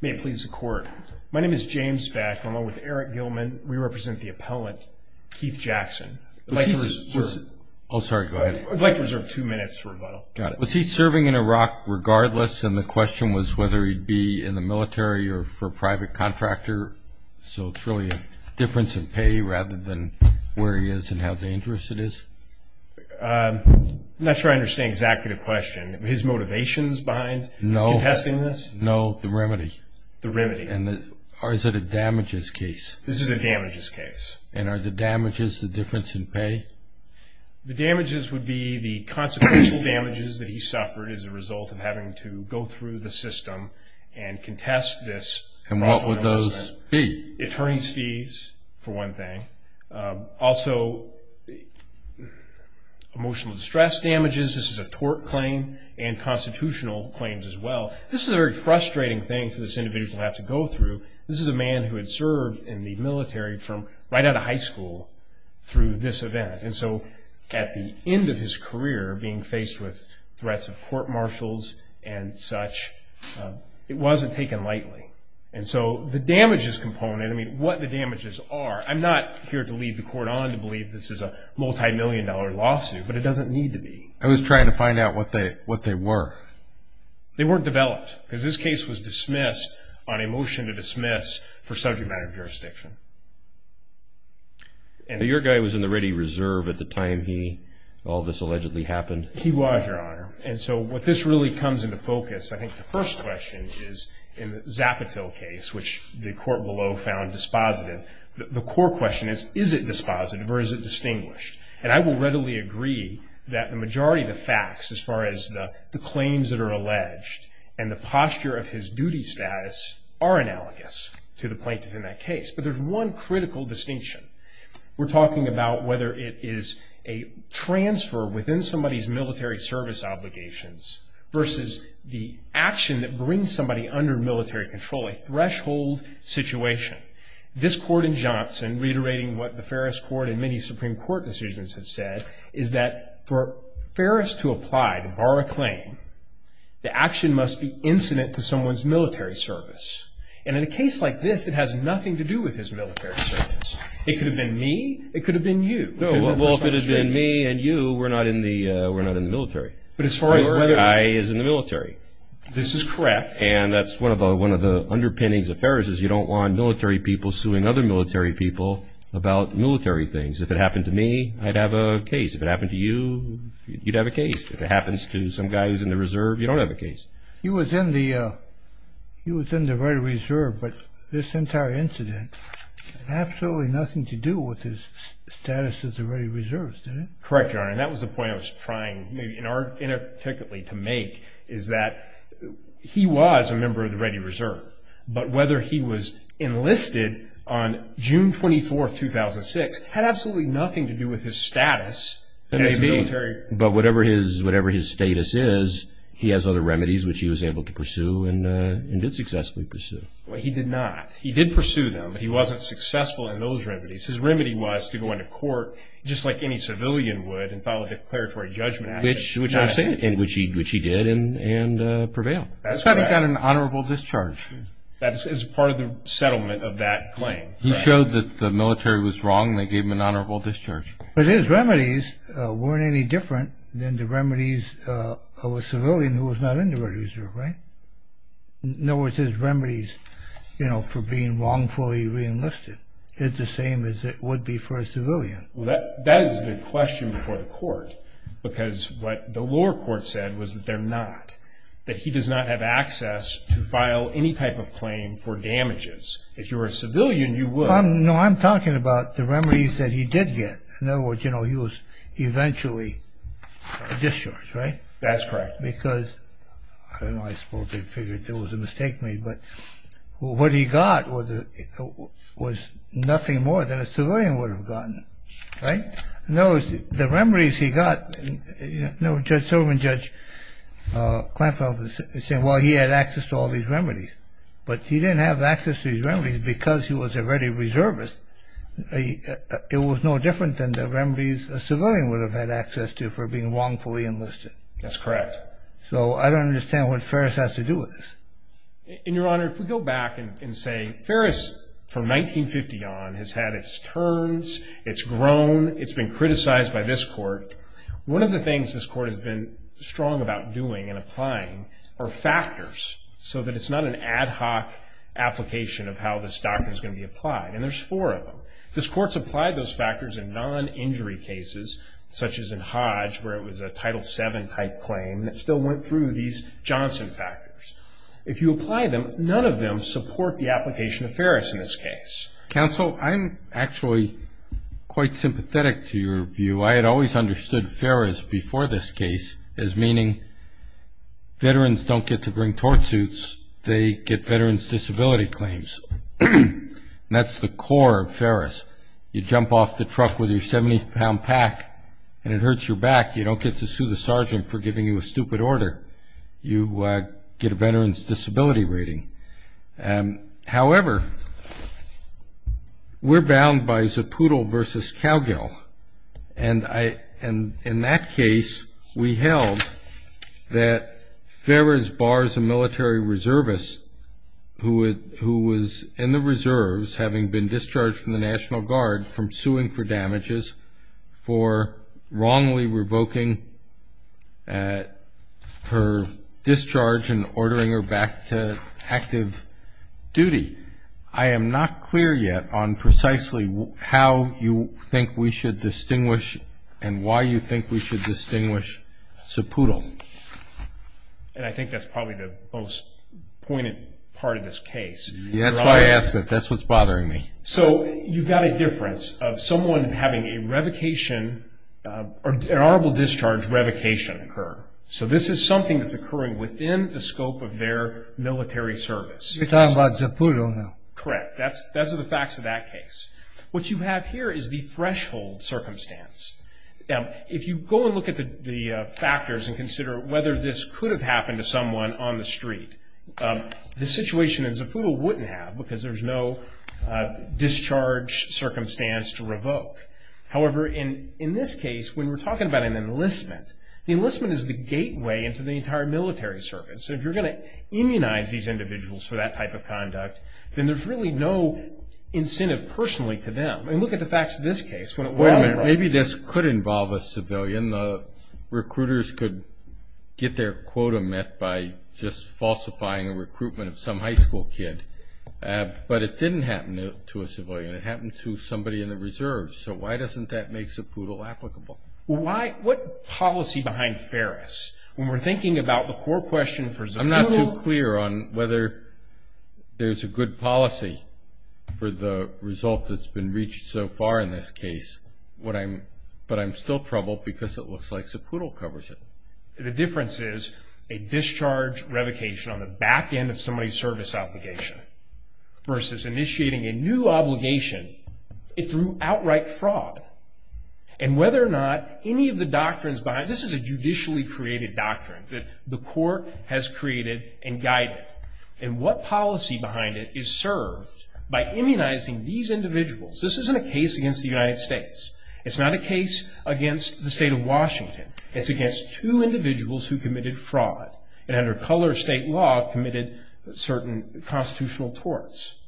May it please the court. My name is James Beck. I'm along with Eric Gilman. We represent the appellant, Keith Jackson. I'd like to reserve two minutes for rebuttal. Was he serving in Iraq regardless, and the question was whether he'd be in the military or for a private contractor? So it's really a difference in pay rather than where he is and how dangerous it is? I'm not sure I understand exactly the question. His motivations behind contesting this? No, the remedy. The remedy. Or is it a damages case? This is a damages case. And are the damages the difference in pay? The damages would be the consequential damages that he suffered as a result of having to go through the system and contest this. And what would those be? Attorney's fees, for one thing. Also, emotional distress damages. This is a tort claim and constitutional claims as well. This is a very frustrating thing for this individual to have to go through. This is a man who had served in the military from right out of high school through this event. And so at the end of his career, being faced with threats of court-martials and such, it wasn't taken lightly. And so the damages component, I mean, what the damages are, I'm not here to lead the court on to believe this is a multimillion-dollar lawsuit, but it doesn't need to be. I was trying to find out what they were. They weren't developed. Because this case was dismissed on a motion to dismiss for subject matter of jurisdiction. Your guy was in the ready reserve at the time he, all this allegedly happened? He was, Your Honor. And so what this really comes into focus, I think the first question is in the Zapatil case, which the court below found dispositive. The core question is, is it dispositive or is it distinguished? And I will readily agree that the majority of the facts as far as the claims that are alleged and the posture of his duty status are analogous to the plaintiff in that case. But there's one critical distinction. We're talking about whether it is a transfer within somebody's military service obligations versus the action that brings somebody under military control, a threshold situation. This court in Johnson, reiterating what the Ferris Court and many Supreme Court decisions have said, is that for Ferris to apply, to borrow a claim, the action must be incident to someone's military service. And in a case like this, it has nothing to do with his military service. It could have been me. It could have been you. No, well, if it had been me and you, we're not in the military. But as far as whether or not... Your guy is in the military. This is correct. And that's one of the underpinnings of Ferris is you don't want military people suing other military people about military things. If it happened to me, I'd have a case. If it happened to you, you'd have a case. If it happens to some guy who's in the reserve, you don't have a case. He was in the Red Reserve, but this entire incident had absolutely nothing to do with his status as a Red Reserve, did it? Correct, Your Honor. And that was the point I was trying maybe inarticulately to make is that he was a member of the Red Reserve, but whether he was enlisted on June 24, 2006 had absolutely nothing to do with his status as military. But whatever his status is, he has other remedies which he was able to pursue and did successfully pursue. Well, he did not. He did pursue them. He wasn't successful in those remedies. His remedy was to go into court just like any civilian would and file a declaratory judgment action. Which he did and prevailed. That's how he got an honorable discharge. That is part of the settlement of that claim. He showed that the military was wrong. They gave him an honorable discharge. But his remedies weren't any different than the remedies of a civilian who was not in the Red Reserve, right? In other words, his remedies for being wrongfully re-enlisted is the same as it would be for a civilian. That is the question before the court because what the lower court said was that they're not, that he does not have access to file any type of claim for damages. If you were a civilian, you would. No, I'm talking about the remedies that he did get. In other words, he was eventually discharged, right? That's correct. Because, I don't know, I suppose they figured there was a mistake made. But what he got was nothing more than a civilian would have gotten, right? No, the remedies he got, no, Judge Silverman, Judge Kleinfeld is saying, well, he had access to all these remedies. But he didn't have access to these remedies because he was already reservist. It was no different than the remedies a civilian would have had access to for being wrongfully enlisted. That's correct. So I don't understand what Ferris has to do with this. And, Your Honor, if we go back and say Ferris from 1950 on has had its turns, it's grown, it's been criticized by this court. One of the things this court has been strong about doing and applying are factors so that it's not an ad hoc application of how this doctrine is going to be applied. And there's four of them. This court's applied those factors in non-injury cases, such as in Hodge where it was a Title VII type claim, and it still went through these Johnson factors. If you apply them, none of them support the application of Ferris in this case. Counsel, I'm actually quite sympathetic to your view. I had always understood Ferris before this case as meaning veterans don't get to bring tort suits, they get veterans' disability claims. And that's the core of Ferris. You jump off the truck with your 70-pound pack and it hurts your back, you don't get to sue the sergeant for giving you a stupid order, you get a veterans' disability rating. However, we're bound by Zaputo v. Cowgill, and in that case we held that Ferris bars a military reservist who was in the reserves, having been discharged from the National Guard from suing for damages, for wrongly revoking her discharge and ordering her back to active duty. I am not clear yet on precisely how you think we should distinguish and why you think we should distinguish Zaputo. And I think that's probably the most pointed part of this case. That's why I asked it. That's what's bothering me. So you've got a difference of someone having an honorable discharge revocation occur. So this is something that's occurring within the scope of their military service. You're talking about Zaputo now. Correct. Those are the facts of that case. What you have here is the threshold circumstance. Now, if you go and look at the factors and consider whether this could have happened to someone on the street, the situation in Zaputo wouldn't have because there's no discharge circumstance to revoke. However, in this case, when we're talking about an enlistment, the enlistment is the gateway into the entire military service. So if you're going to immunize these individuals for that type of conduct, then there's really no incentive personally to them. And look at the facts of this case. Wait a minute. Maybe this could involve a civilian. Recruiters could get their quota met by just falsifying a recruitment of some high school kid. But it didn't happen to a civilian. It happened to somebody in the reserve. So why doesn't that make Zaputo applicable? What policy behind Ferris when we're thinking about the core question for Zaputo? I'm not too clear on whether there's a good policy for the result that's been reached so far in this case. But I'm still troubled because it looks like Zaputo covers it. The difference is a discharge revocation on the back end of somebody's service obligation versus initiating a new obligation through outright fraud. And whether or not any of the doctrines behind it, this is a judicially created doctrine that the court has created and guided. And what policy behind it is served by immunizing these individuals? This isn't a case against the United States. It's not a case against the state of Washington. It's against two individuals who committed fraud and under color state law committed certain constitutional torts.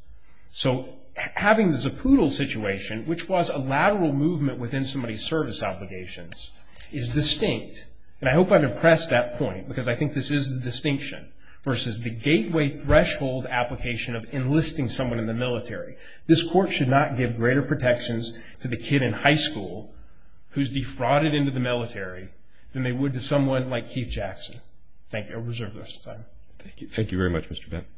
So having the Zaputo situation, which was a lateral movement within somebody's service obligations, is distinct. And I hope I've impressed that point because I think this is the distinction versus the gateway threshold application of enlisting someone in the military. This court should not give greater protections to the kid in high school who's defrauded into the military than they would to someone like Keith Jackson. Thank you. I'll reserve the rest of the time. Thank you. Thank you very much, Mr. Benton.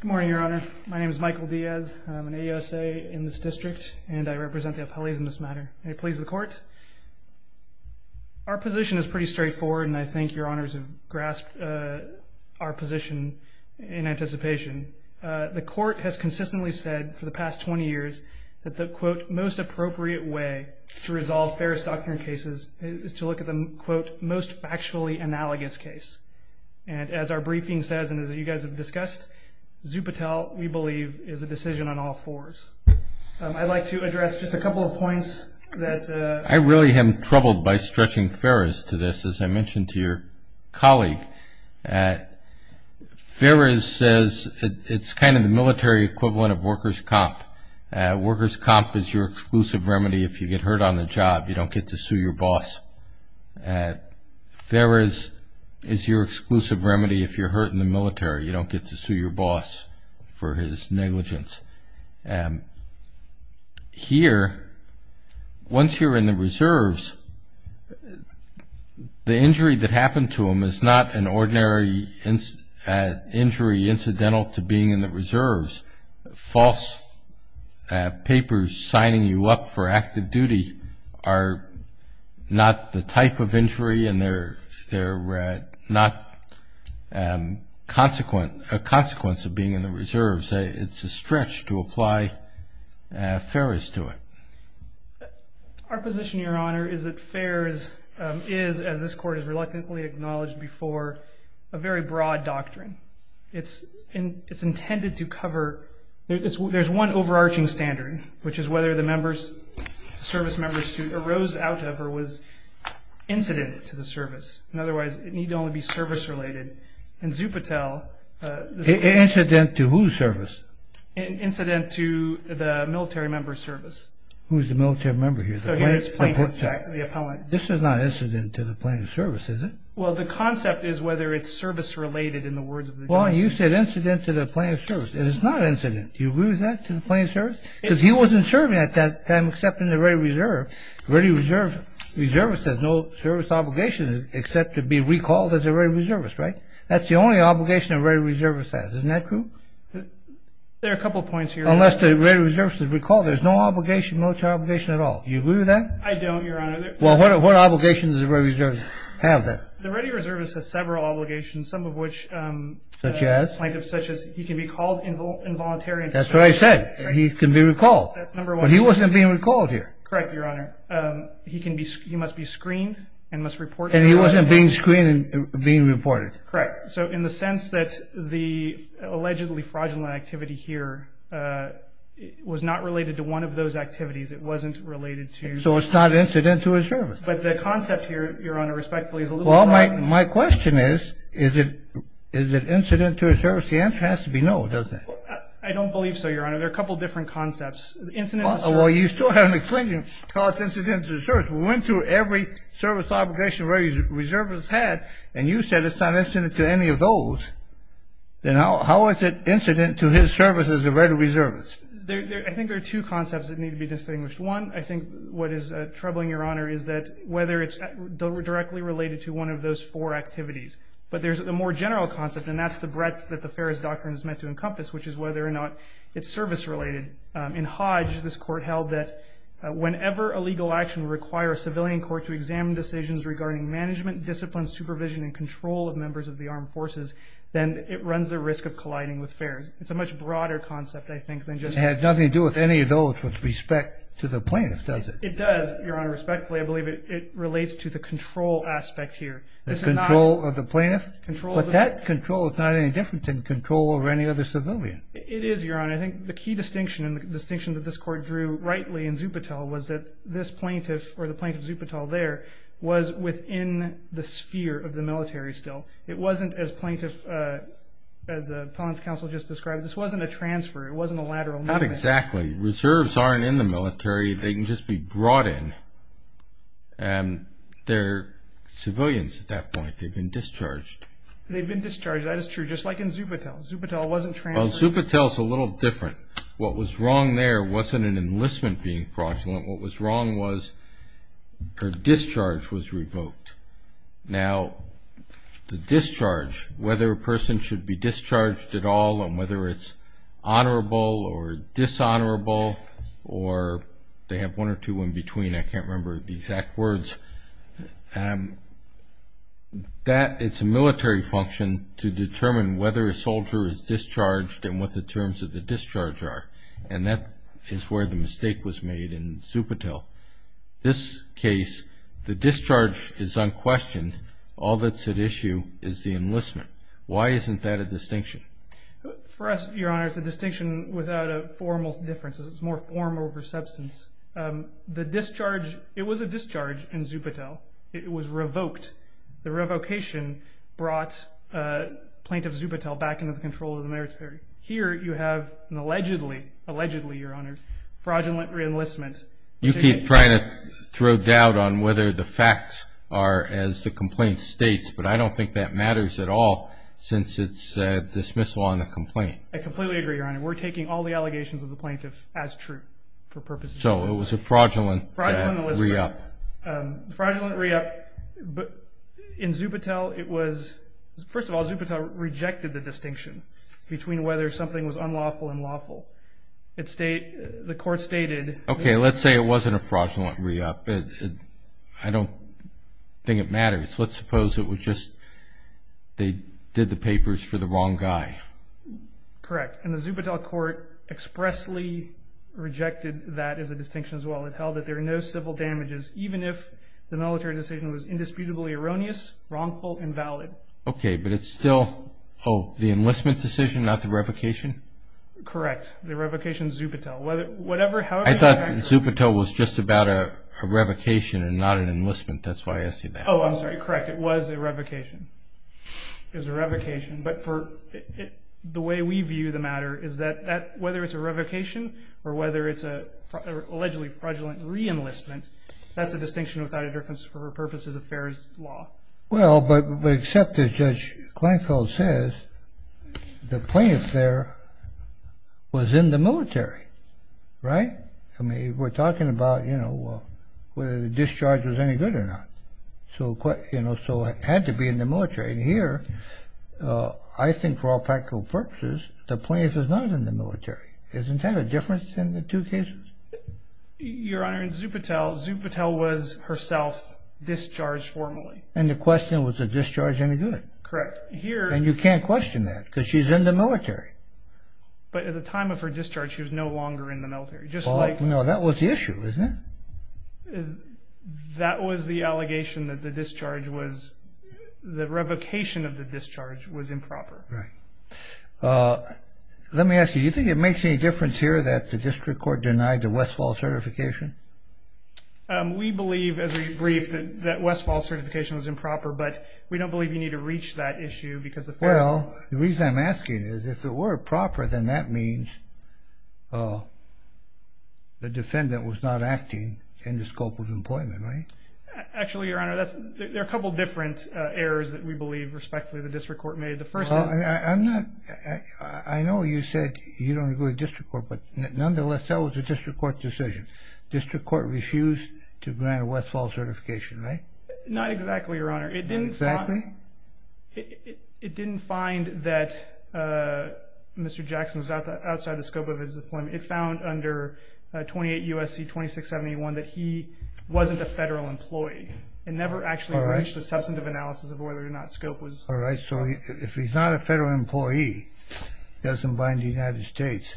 Good morning, Your Honor. My name is Michael Diaz. I'm an AUSA in this district, and I represent the appellees in this matter. May it please the court. Our position is pretty straightforward, and I think Your Honors have grasped our position in anticipation. The court has consistently said for the past 20 years that the, quote, most appropriate way to resolve Ferris doctrine cases is to look at the, quote, most factually analogous case. And as our briefing says and as you guys have discussed, Zupatel, we believe, is a decision on all fours. I'd like to address just a couple of points that. I really am troubled by stretching Ferris to this, as I mentioned to your colleague. Ferris says it's kind of the military equivalent of workers' comp. Workers' comp is your exclusive remedy if you get hurt on the job, you don't get to sue your boss. You don't get to sue your boss for his negligence. Here, once you're in the reserves, the injury that happened to him is not an ordinary injury incidental to being in the reserves. False papers signing you up for active duty are not the type of injury and they're not a consequence of being in the reserves. It's a stretch to apply Ferris to it. Our position, Your Honor, is that Ferris is, as this Court has reluctantly acknowledged before, a very broad doctrine. It's intended to cover – there's one overarching standard, which is whether the service member's suit arose out of or was incident to the service. Otherwise, it need only be service-related. In Zupatel... Incident to whose service? Incident to the military member's service. Who's the military member here? The plaintiff, the appellant. This is not incident to the plaintiff's service, is it? Well, the concept is whether it's service-related in the words of the judge. Well, you said incident to the plaintiff's service. It is not incident. Do you agree with that, to the plaintiff's service? Because he wasn't serving at that time except in the ready reserve. The ready reserve says no service obligation except to be recalled as a ready reservist, right? That's the only obligation a ready reservist has. Isn't that true? There are a couple of points here. Unless the ready reservist is recalled, there's no obligation, military obligation at all. Do you agree with that? I don't, Your Honor. Well, what obligations does a ready reservist have then? The ready reservist has several obligations, some of which... Such as? ...such as he can be called involuntary. That's what I said. He can be recalled. That's number one. But he wasn't being recalled here. Correct, Your Honor. He must be screened and must report... And he wasn't being screened and being reported. Correct. So in the sense that the allegedly fraudulent activity here was not related to one of those activities. It wasn't related to... So it's not incident to his service. But the concept here, Your Honor, respectfully, is a little... Well, my question is, is it incident to his service? The answer has to be no, doesn't it? I don't believe so, Your Honor. There are a couple of different concepts. Incident to service... Well, you still have an extenuating cause incident to service. We went through every service obligation a ready reservist had, and you said it's not incident to any of those. Then how is it incident to his service as a ready reservist? I think there are two concepts that need to be distinguished. One, I think what is troubling, Your Honor, is that whether it's directly related to one of those four activities. But there's a more general concept, and that's the breadth that the Ferris Doctrine is meant to encompass, which is whether or not it's service-related. In Hodge, this Court held that whenever a legal action requires a civilian court to examine decisions regarding management, discipline, supervision, and control of members of the armed forces, then it runs the risk of colliding with Ferris. It's a much broader concept, I think, than just... It has nothing to do with any of those with respect to the plaintiff, does it? It does, Your Honor, respectfully. I believe it relates to the control aspect here. The control of the plaintiff? Control of the... But that control is not any different than control over any other civilian. It is, Your Honor. I think the key distinction, and the distinction that this Court drew rightly in Zupatel, was that this plaintiff, or the plaintiff Zupatel there, was within the sphere of the military still. It wasn't, as Plaintiff, as Appellant's Counsel just described, this wasn't a transfer. It wasn't a lateral movement. Not exactly. Reserves aren't in the military. They can just be brought in, and they're civilians at that point. They've been discharged. They've been discharged. That is true. Just like in Zupatel. Zupatel wasn't transferred. Well, Zupatel's a little different. What was wrong there wasn't an enlistment being fraudulent. What was wrong was her discharge was revoked. Now, the discharge, whether a person should be discharged at all, and whether it's honorable or dishonorable, or they have one or two in between, I can't remember the exact words. It's a military function to determine whether a soldier is discharged and what the terms of the discharge are. And that is where the mistake was made in Zupatel. This case, the discharge is unquestioned. All that's at issue is the enlistment. Why isn't that a distinction? For us, Your Honor, it's a distinction without a formal difference. It's more form over substance. The discharge, it was a discharge in Zupatel. It was revoked. The revocation brought Plaintiff Zupatel back into the control of the military. Here you have an allegedly, allegedly, Your Honor, fraudulent re-enlistment. You keep trying to throw doubt on whether the facts are as the complaint states, but I don't think that matters at all since it's dismissal on the complaint. I completely agree, Your Honor. We're taking all the allegations of the plaintiff as true for purposes of this case. So it was a fraudulent re-up. Fraudulent re-up. In Zupatel, it was, first of all, Zupatel rejected the distinction between whether something was unlawful and lawful. The court stated. Okay. Let's say it wasn't a fraudulent re-up. I don't think it matters. Let's suppose it was just they did the papers for the wrong guy. Correct. And the Zupatel court expressly rejected that as a distinction as well. It held that there are no civil damages, even if the military decision was indisputably erroneous, wrongful, and valid. Okay. But it's still the enlistment decision, not the revocation? Correct. The revocation, Zupatel. I thought Zupatel was just about a revocation and not an enlistment. That's why I asked you that. Oh, I'm sorry. Correct. It was a revocation. It was a revocation. But the way we view the matter is that whether it's a revocation or whether it's an allegedly fraudulent re-enlistment, that's a distinction without a difference for purposes of fair law. Well, but except as Judge Kleinfeld says, the plaintiff there was in the military. Right? I mean, we're talking about, you know, whether the discharge was any good or not. So it had to be in the military. And here, I think for all practical purposes, the plaintiff was not in the military. Isn't that a difference in the two cases? Your Honor, in Zupatel, Zupatel was herself discharged formally. And the question, was the discharge any good? Correct. And you can't question that because she's in the military. But at the time of her discharge, she was no longer in the military. No, that was the issue, wasn't it? That was the allegation that the discharge was the revocation of the discharge was improper. Right. Let me ask you, do you think it makes any difference here that the district court denied the Westfall certification? We believe, as we've briefed, that Westfall certification was improper. But we don't believe you need to reach that issue because the first thing Well, the reason I'm asking is if it were proper, then that means the defendant was not acting in the scope of employment. Right? Actually, Your Honor, there are a couple of different errors that we believe, respectfully, the district court made. The first thing I know you said you don't agree with the district court. But nonetheless, that was a district court decision. District court refused to grant Westfall certification, right? Not exactly, Your Honor. Exactly? It didn't find that Mr. Jackson was outside the scope of his employment. It found under 28 U.S.C. 2671 that he wasn't a federal employee. It never actually reached the substantive analysis of whether or not scope was So if he's not a federal employee, doesn't bind the United States,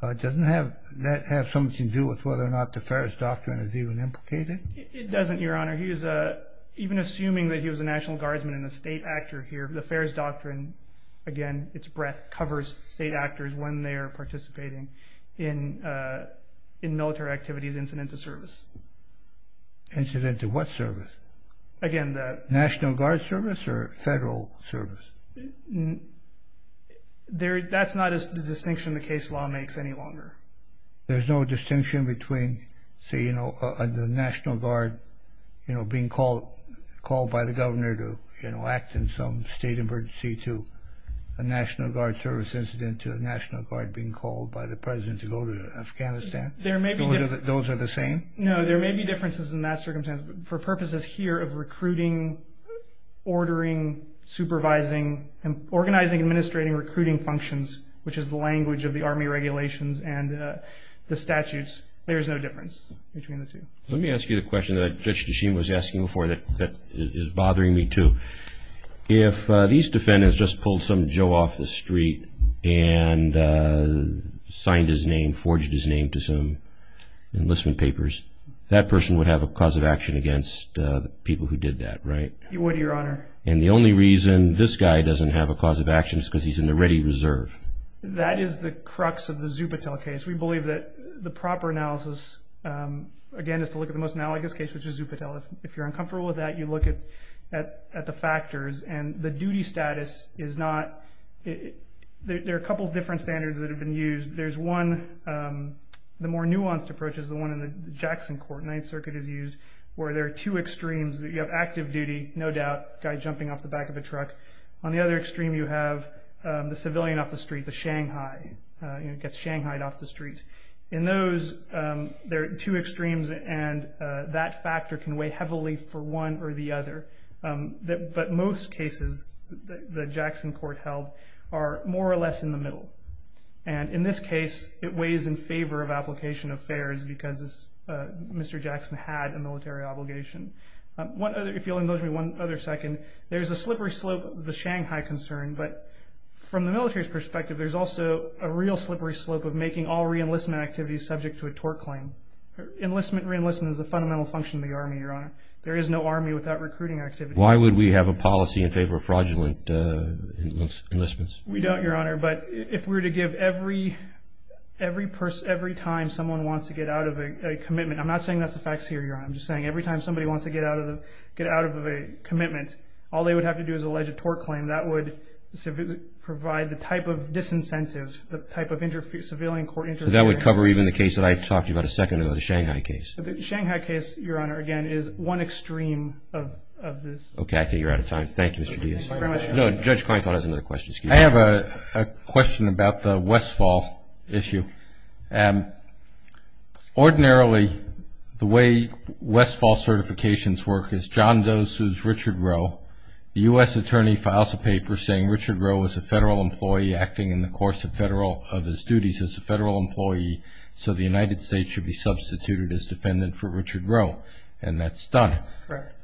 doesn't that have something to do with whether or not the Ferris Doctrine is even implicated? It doesn't, Your Honor. Even assuming that he was a National Guardsman and a state actor here, the Ferris Doctrine, again, its breadth covers state actors when they are participating in military activities incident to service. Incident to what service? National Guard service or federal service? That's not a distinction the case law makes any longer. There's no distinction between the National Guard being called by the governor to act in some state emergency to a National Guard service incident to a National Guard being called by the president to go to Afghanistan? Those are the same? No, there may be differences in that circumstance. For purposes here of recruiting, ordering, supervising, organizing, administrating, recruiting functions, which is the language of the Army regulations and the statutes, there's no difference between the two. Let me ask you the question that Judge Desheen was asking before that is bothering me too. If these defendants just pulled some Joe off the street and signed his name, forged his name to some enlistment papers, that person would have a cause of action against the people who did that, right? He would, Your Honor. And the only reason this guy doesn't have a cause of action is because he's in the ready reserve? That is the crux of the Zupatel case. We believe that the proper analysis, again, is to look at the most analogous case, which is Zupatel. If you're uncomfortable with that, you look at the factors. And the duty status is not – there are a couple of different standards that have been used. There's one – the more nuanced approach is the one in the Jackson Court, Ninth Circuit has used, where there are two extremes. You have active duty, no doubt, guy jumping off the back of a truck. On the other extreme, you have the civilian off the street, the Shanghai, gets Shanghai'd off the street. In those, there are two extremes, and that factor can weigh heavily for one or the other. But most cases that the Jackson Court held are more or less in the middle. And in this case, it weighs in favor of application of fares because Mr. Jackson had a military obligation. If you'll indulge me one other second, there's a slippery slope of the Shanghai concern, but from the military's perspective, there's also a real slippery slope of making all reenlistment activities subject to a tort claim. Enlistment and reenlistment is a fundamental function of the Army, Your Honor. There is no Army without recruiting activity. Why would we have a policy in favor of fraudulent enlistments? We don't, Your Honor, but if we were to give every time someone wants to get out of a commitment, I'm not saying that's the facts here, Your Honor. I'm just saying every time somebody wants to get out of a commitment, all they would have to do is allege a tort claim. That would provide the type of disincentives, the type of civilian court interference. So that would cover even the case that I talked about a second ago, the Shanghai case? The Shanghai case, Your Honor, again, is one extreme of this. Okay, I think you're out of time. Thank you, Mr. Diaz. Thank you very much, Your Honor. No, Judge Kleinfeld has another question. Excuse me. I have a question about the Westfall issue. Ordinarily, the way Westfall certifications work is John does Richard Rowe. The U.S. attorney files a paper saying Richard Rowe is a federal employee acting in the course of his duties as a federal employee, so the United States should be substituted as defendant for Richard Rowe, and that's done. Correct.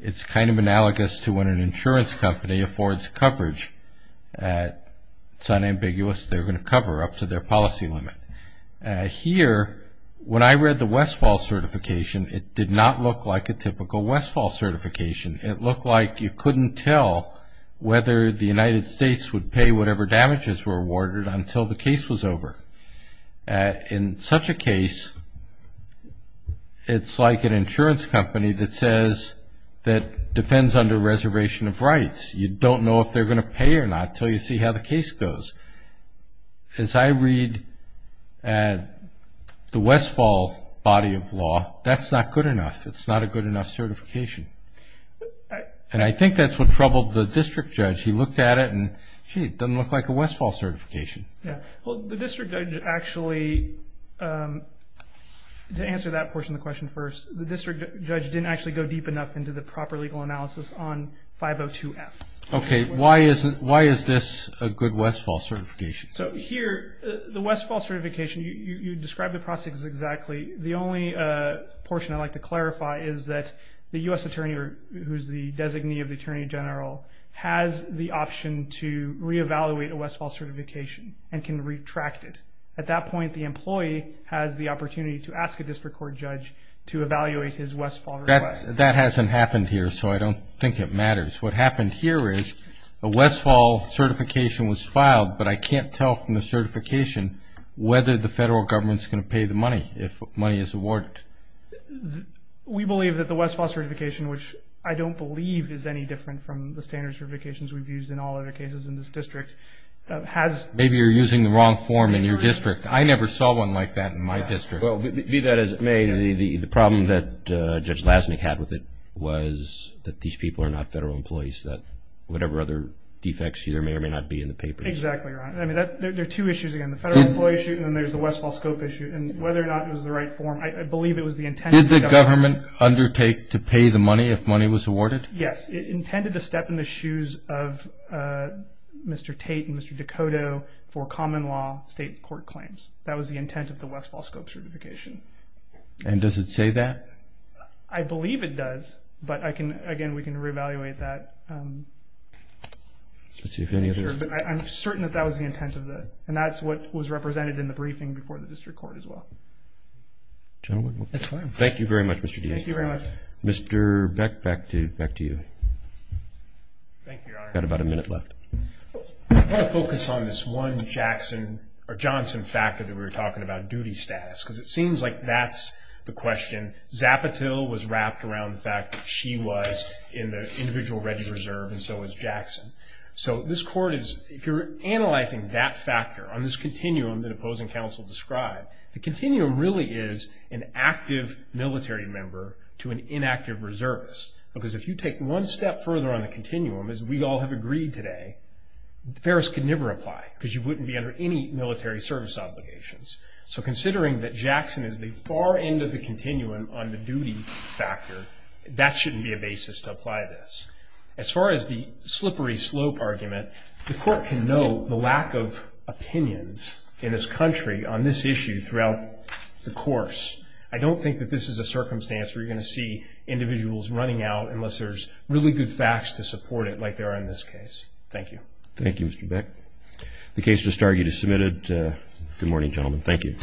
It's kind of analogous to when an insurance company affords coverage. It's unambiguous. They're going to cover up to their policy limit. Here, when I read the Westfall certification, it did not look like a typical Westfall certification. It looked like you couldn't tell whether the United States would pay whatever damages were awarded until the case was over. In such a case, it's like an insurance company that says that defends under reservation of rights. You don't know if they're going to pay or not until you see how the case goes. As I read the Westfall body of law, that's not good enough. It's not a good enough certification. And I think that's what troubled the district judge. He looked at it and, gee, it doesn't look like a Westfall certification. Yeah. Well, the district judge actually, to answer that portion of the question first, the district judge didn't actually go deep enough into the proper legal analysis on 502F. Okay. Why is this a good Westfall certification? So here, the Westfall certification, you described the process exactly. The only portion I'd like to clarify is that the U.S. attorney, who's the designee of the attorney general, has the option to reevaluate a Westfall certification and can retract it. At that point, the employee has the opportunity to ask a district court judge to evaluate his Westfall request. That hasn't happened here, so I don't think it matters. What happened here is a Westfall certification was filed, but I can't tell from the certification whether the federal government is going to pay the money if money is awarded. We believe that the Westfall certification, which I don't believe is any different from the standard certifications we've used in all other cases in this district, has... Maybe you're using the wrong form in your district. I never saw one like that in my district. Well, be that as it may, the problem that Judge Lasnik had with it was that these people are not federal employees, that whatever other defects here may or may not be in the papers. Exactly, Your Honor. I mean, there are two issues, again, the federal employee issue and then there's the Westfall scope issue. And whether or not it was the right form, I believe it was the intent of the government. Did the government undertake to pay the money if money was awarded? Yes. It intended to step in the shoes of Mr. Tate and Mr. Decoto for common law state court claims. That was the intent of the Westfall scope certification. And does it say that? I believe it does, but, again, we can reevaluate that. I'm certain that that was the intent of the... And that's what was represented in the briefing before the district court as well. Thank you very much, Mr. D. Thank you very much. Mr. Beck, back to you. Thank you, Your Honor. You've got about a minute left. I want to focus on this one Jackson or Johnson factor that we were talking about, duty status, because it seems like that's the question. Zapotil was wrapped around the fact that she was in the individual ready reserve and so was Jackson. So this court is, if you're analyzing that factor on this continuum that opposing counsel described, the continuum really is an active military member to an inactive reservist. Because if you take one step further on the continuum, as we all have agreed today, Ferris could never apply because you wouldn't be under any military service obligations. So considering that Jackson is the far end of the continuum on the duty factor, that shouldn't be a basis to apply this. As far as the slippery slope argument, the court can know the lack of opinions in this country on this issue throughout the course. I don't think that this is a circumstance where you're going to see individuals running out unless there's really good facts to support it like there are in this case. Thank you. Thank you, Mr. Beck. The case just argued is submitted. Good morning, gentlemen. Thank you.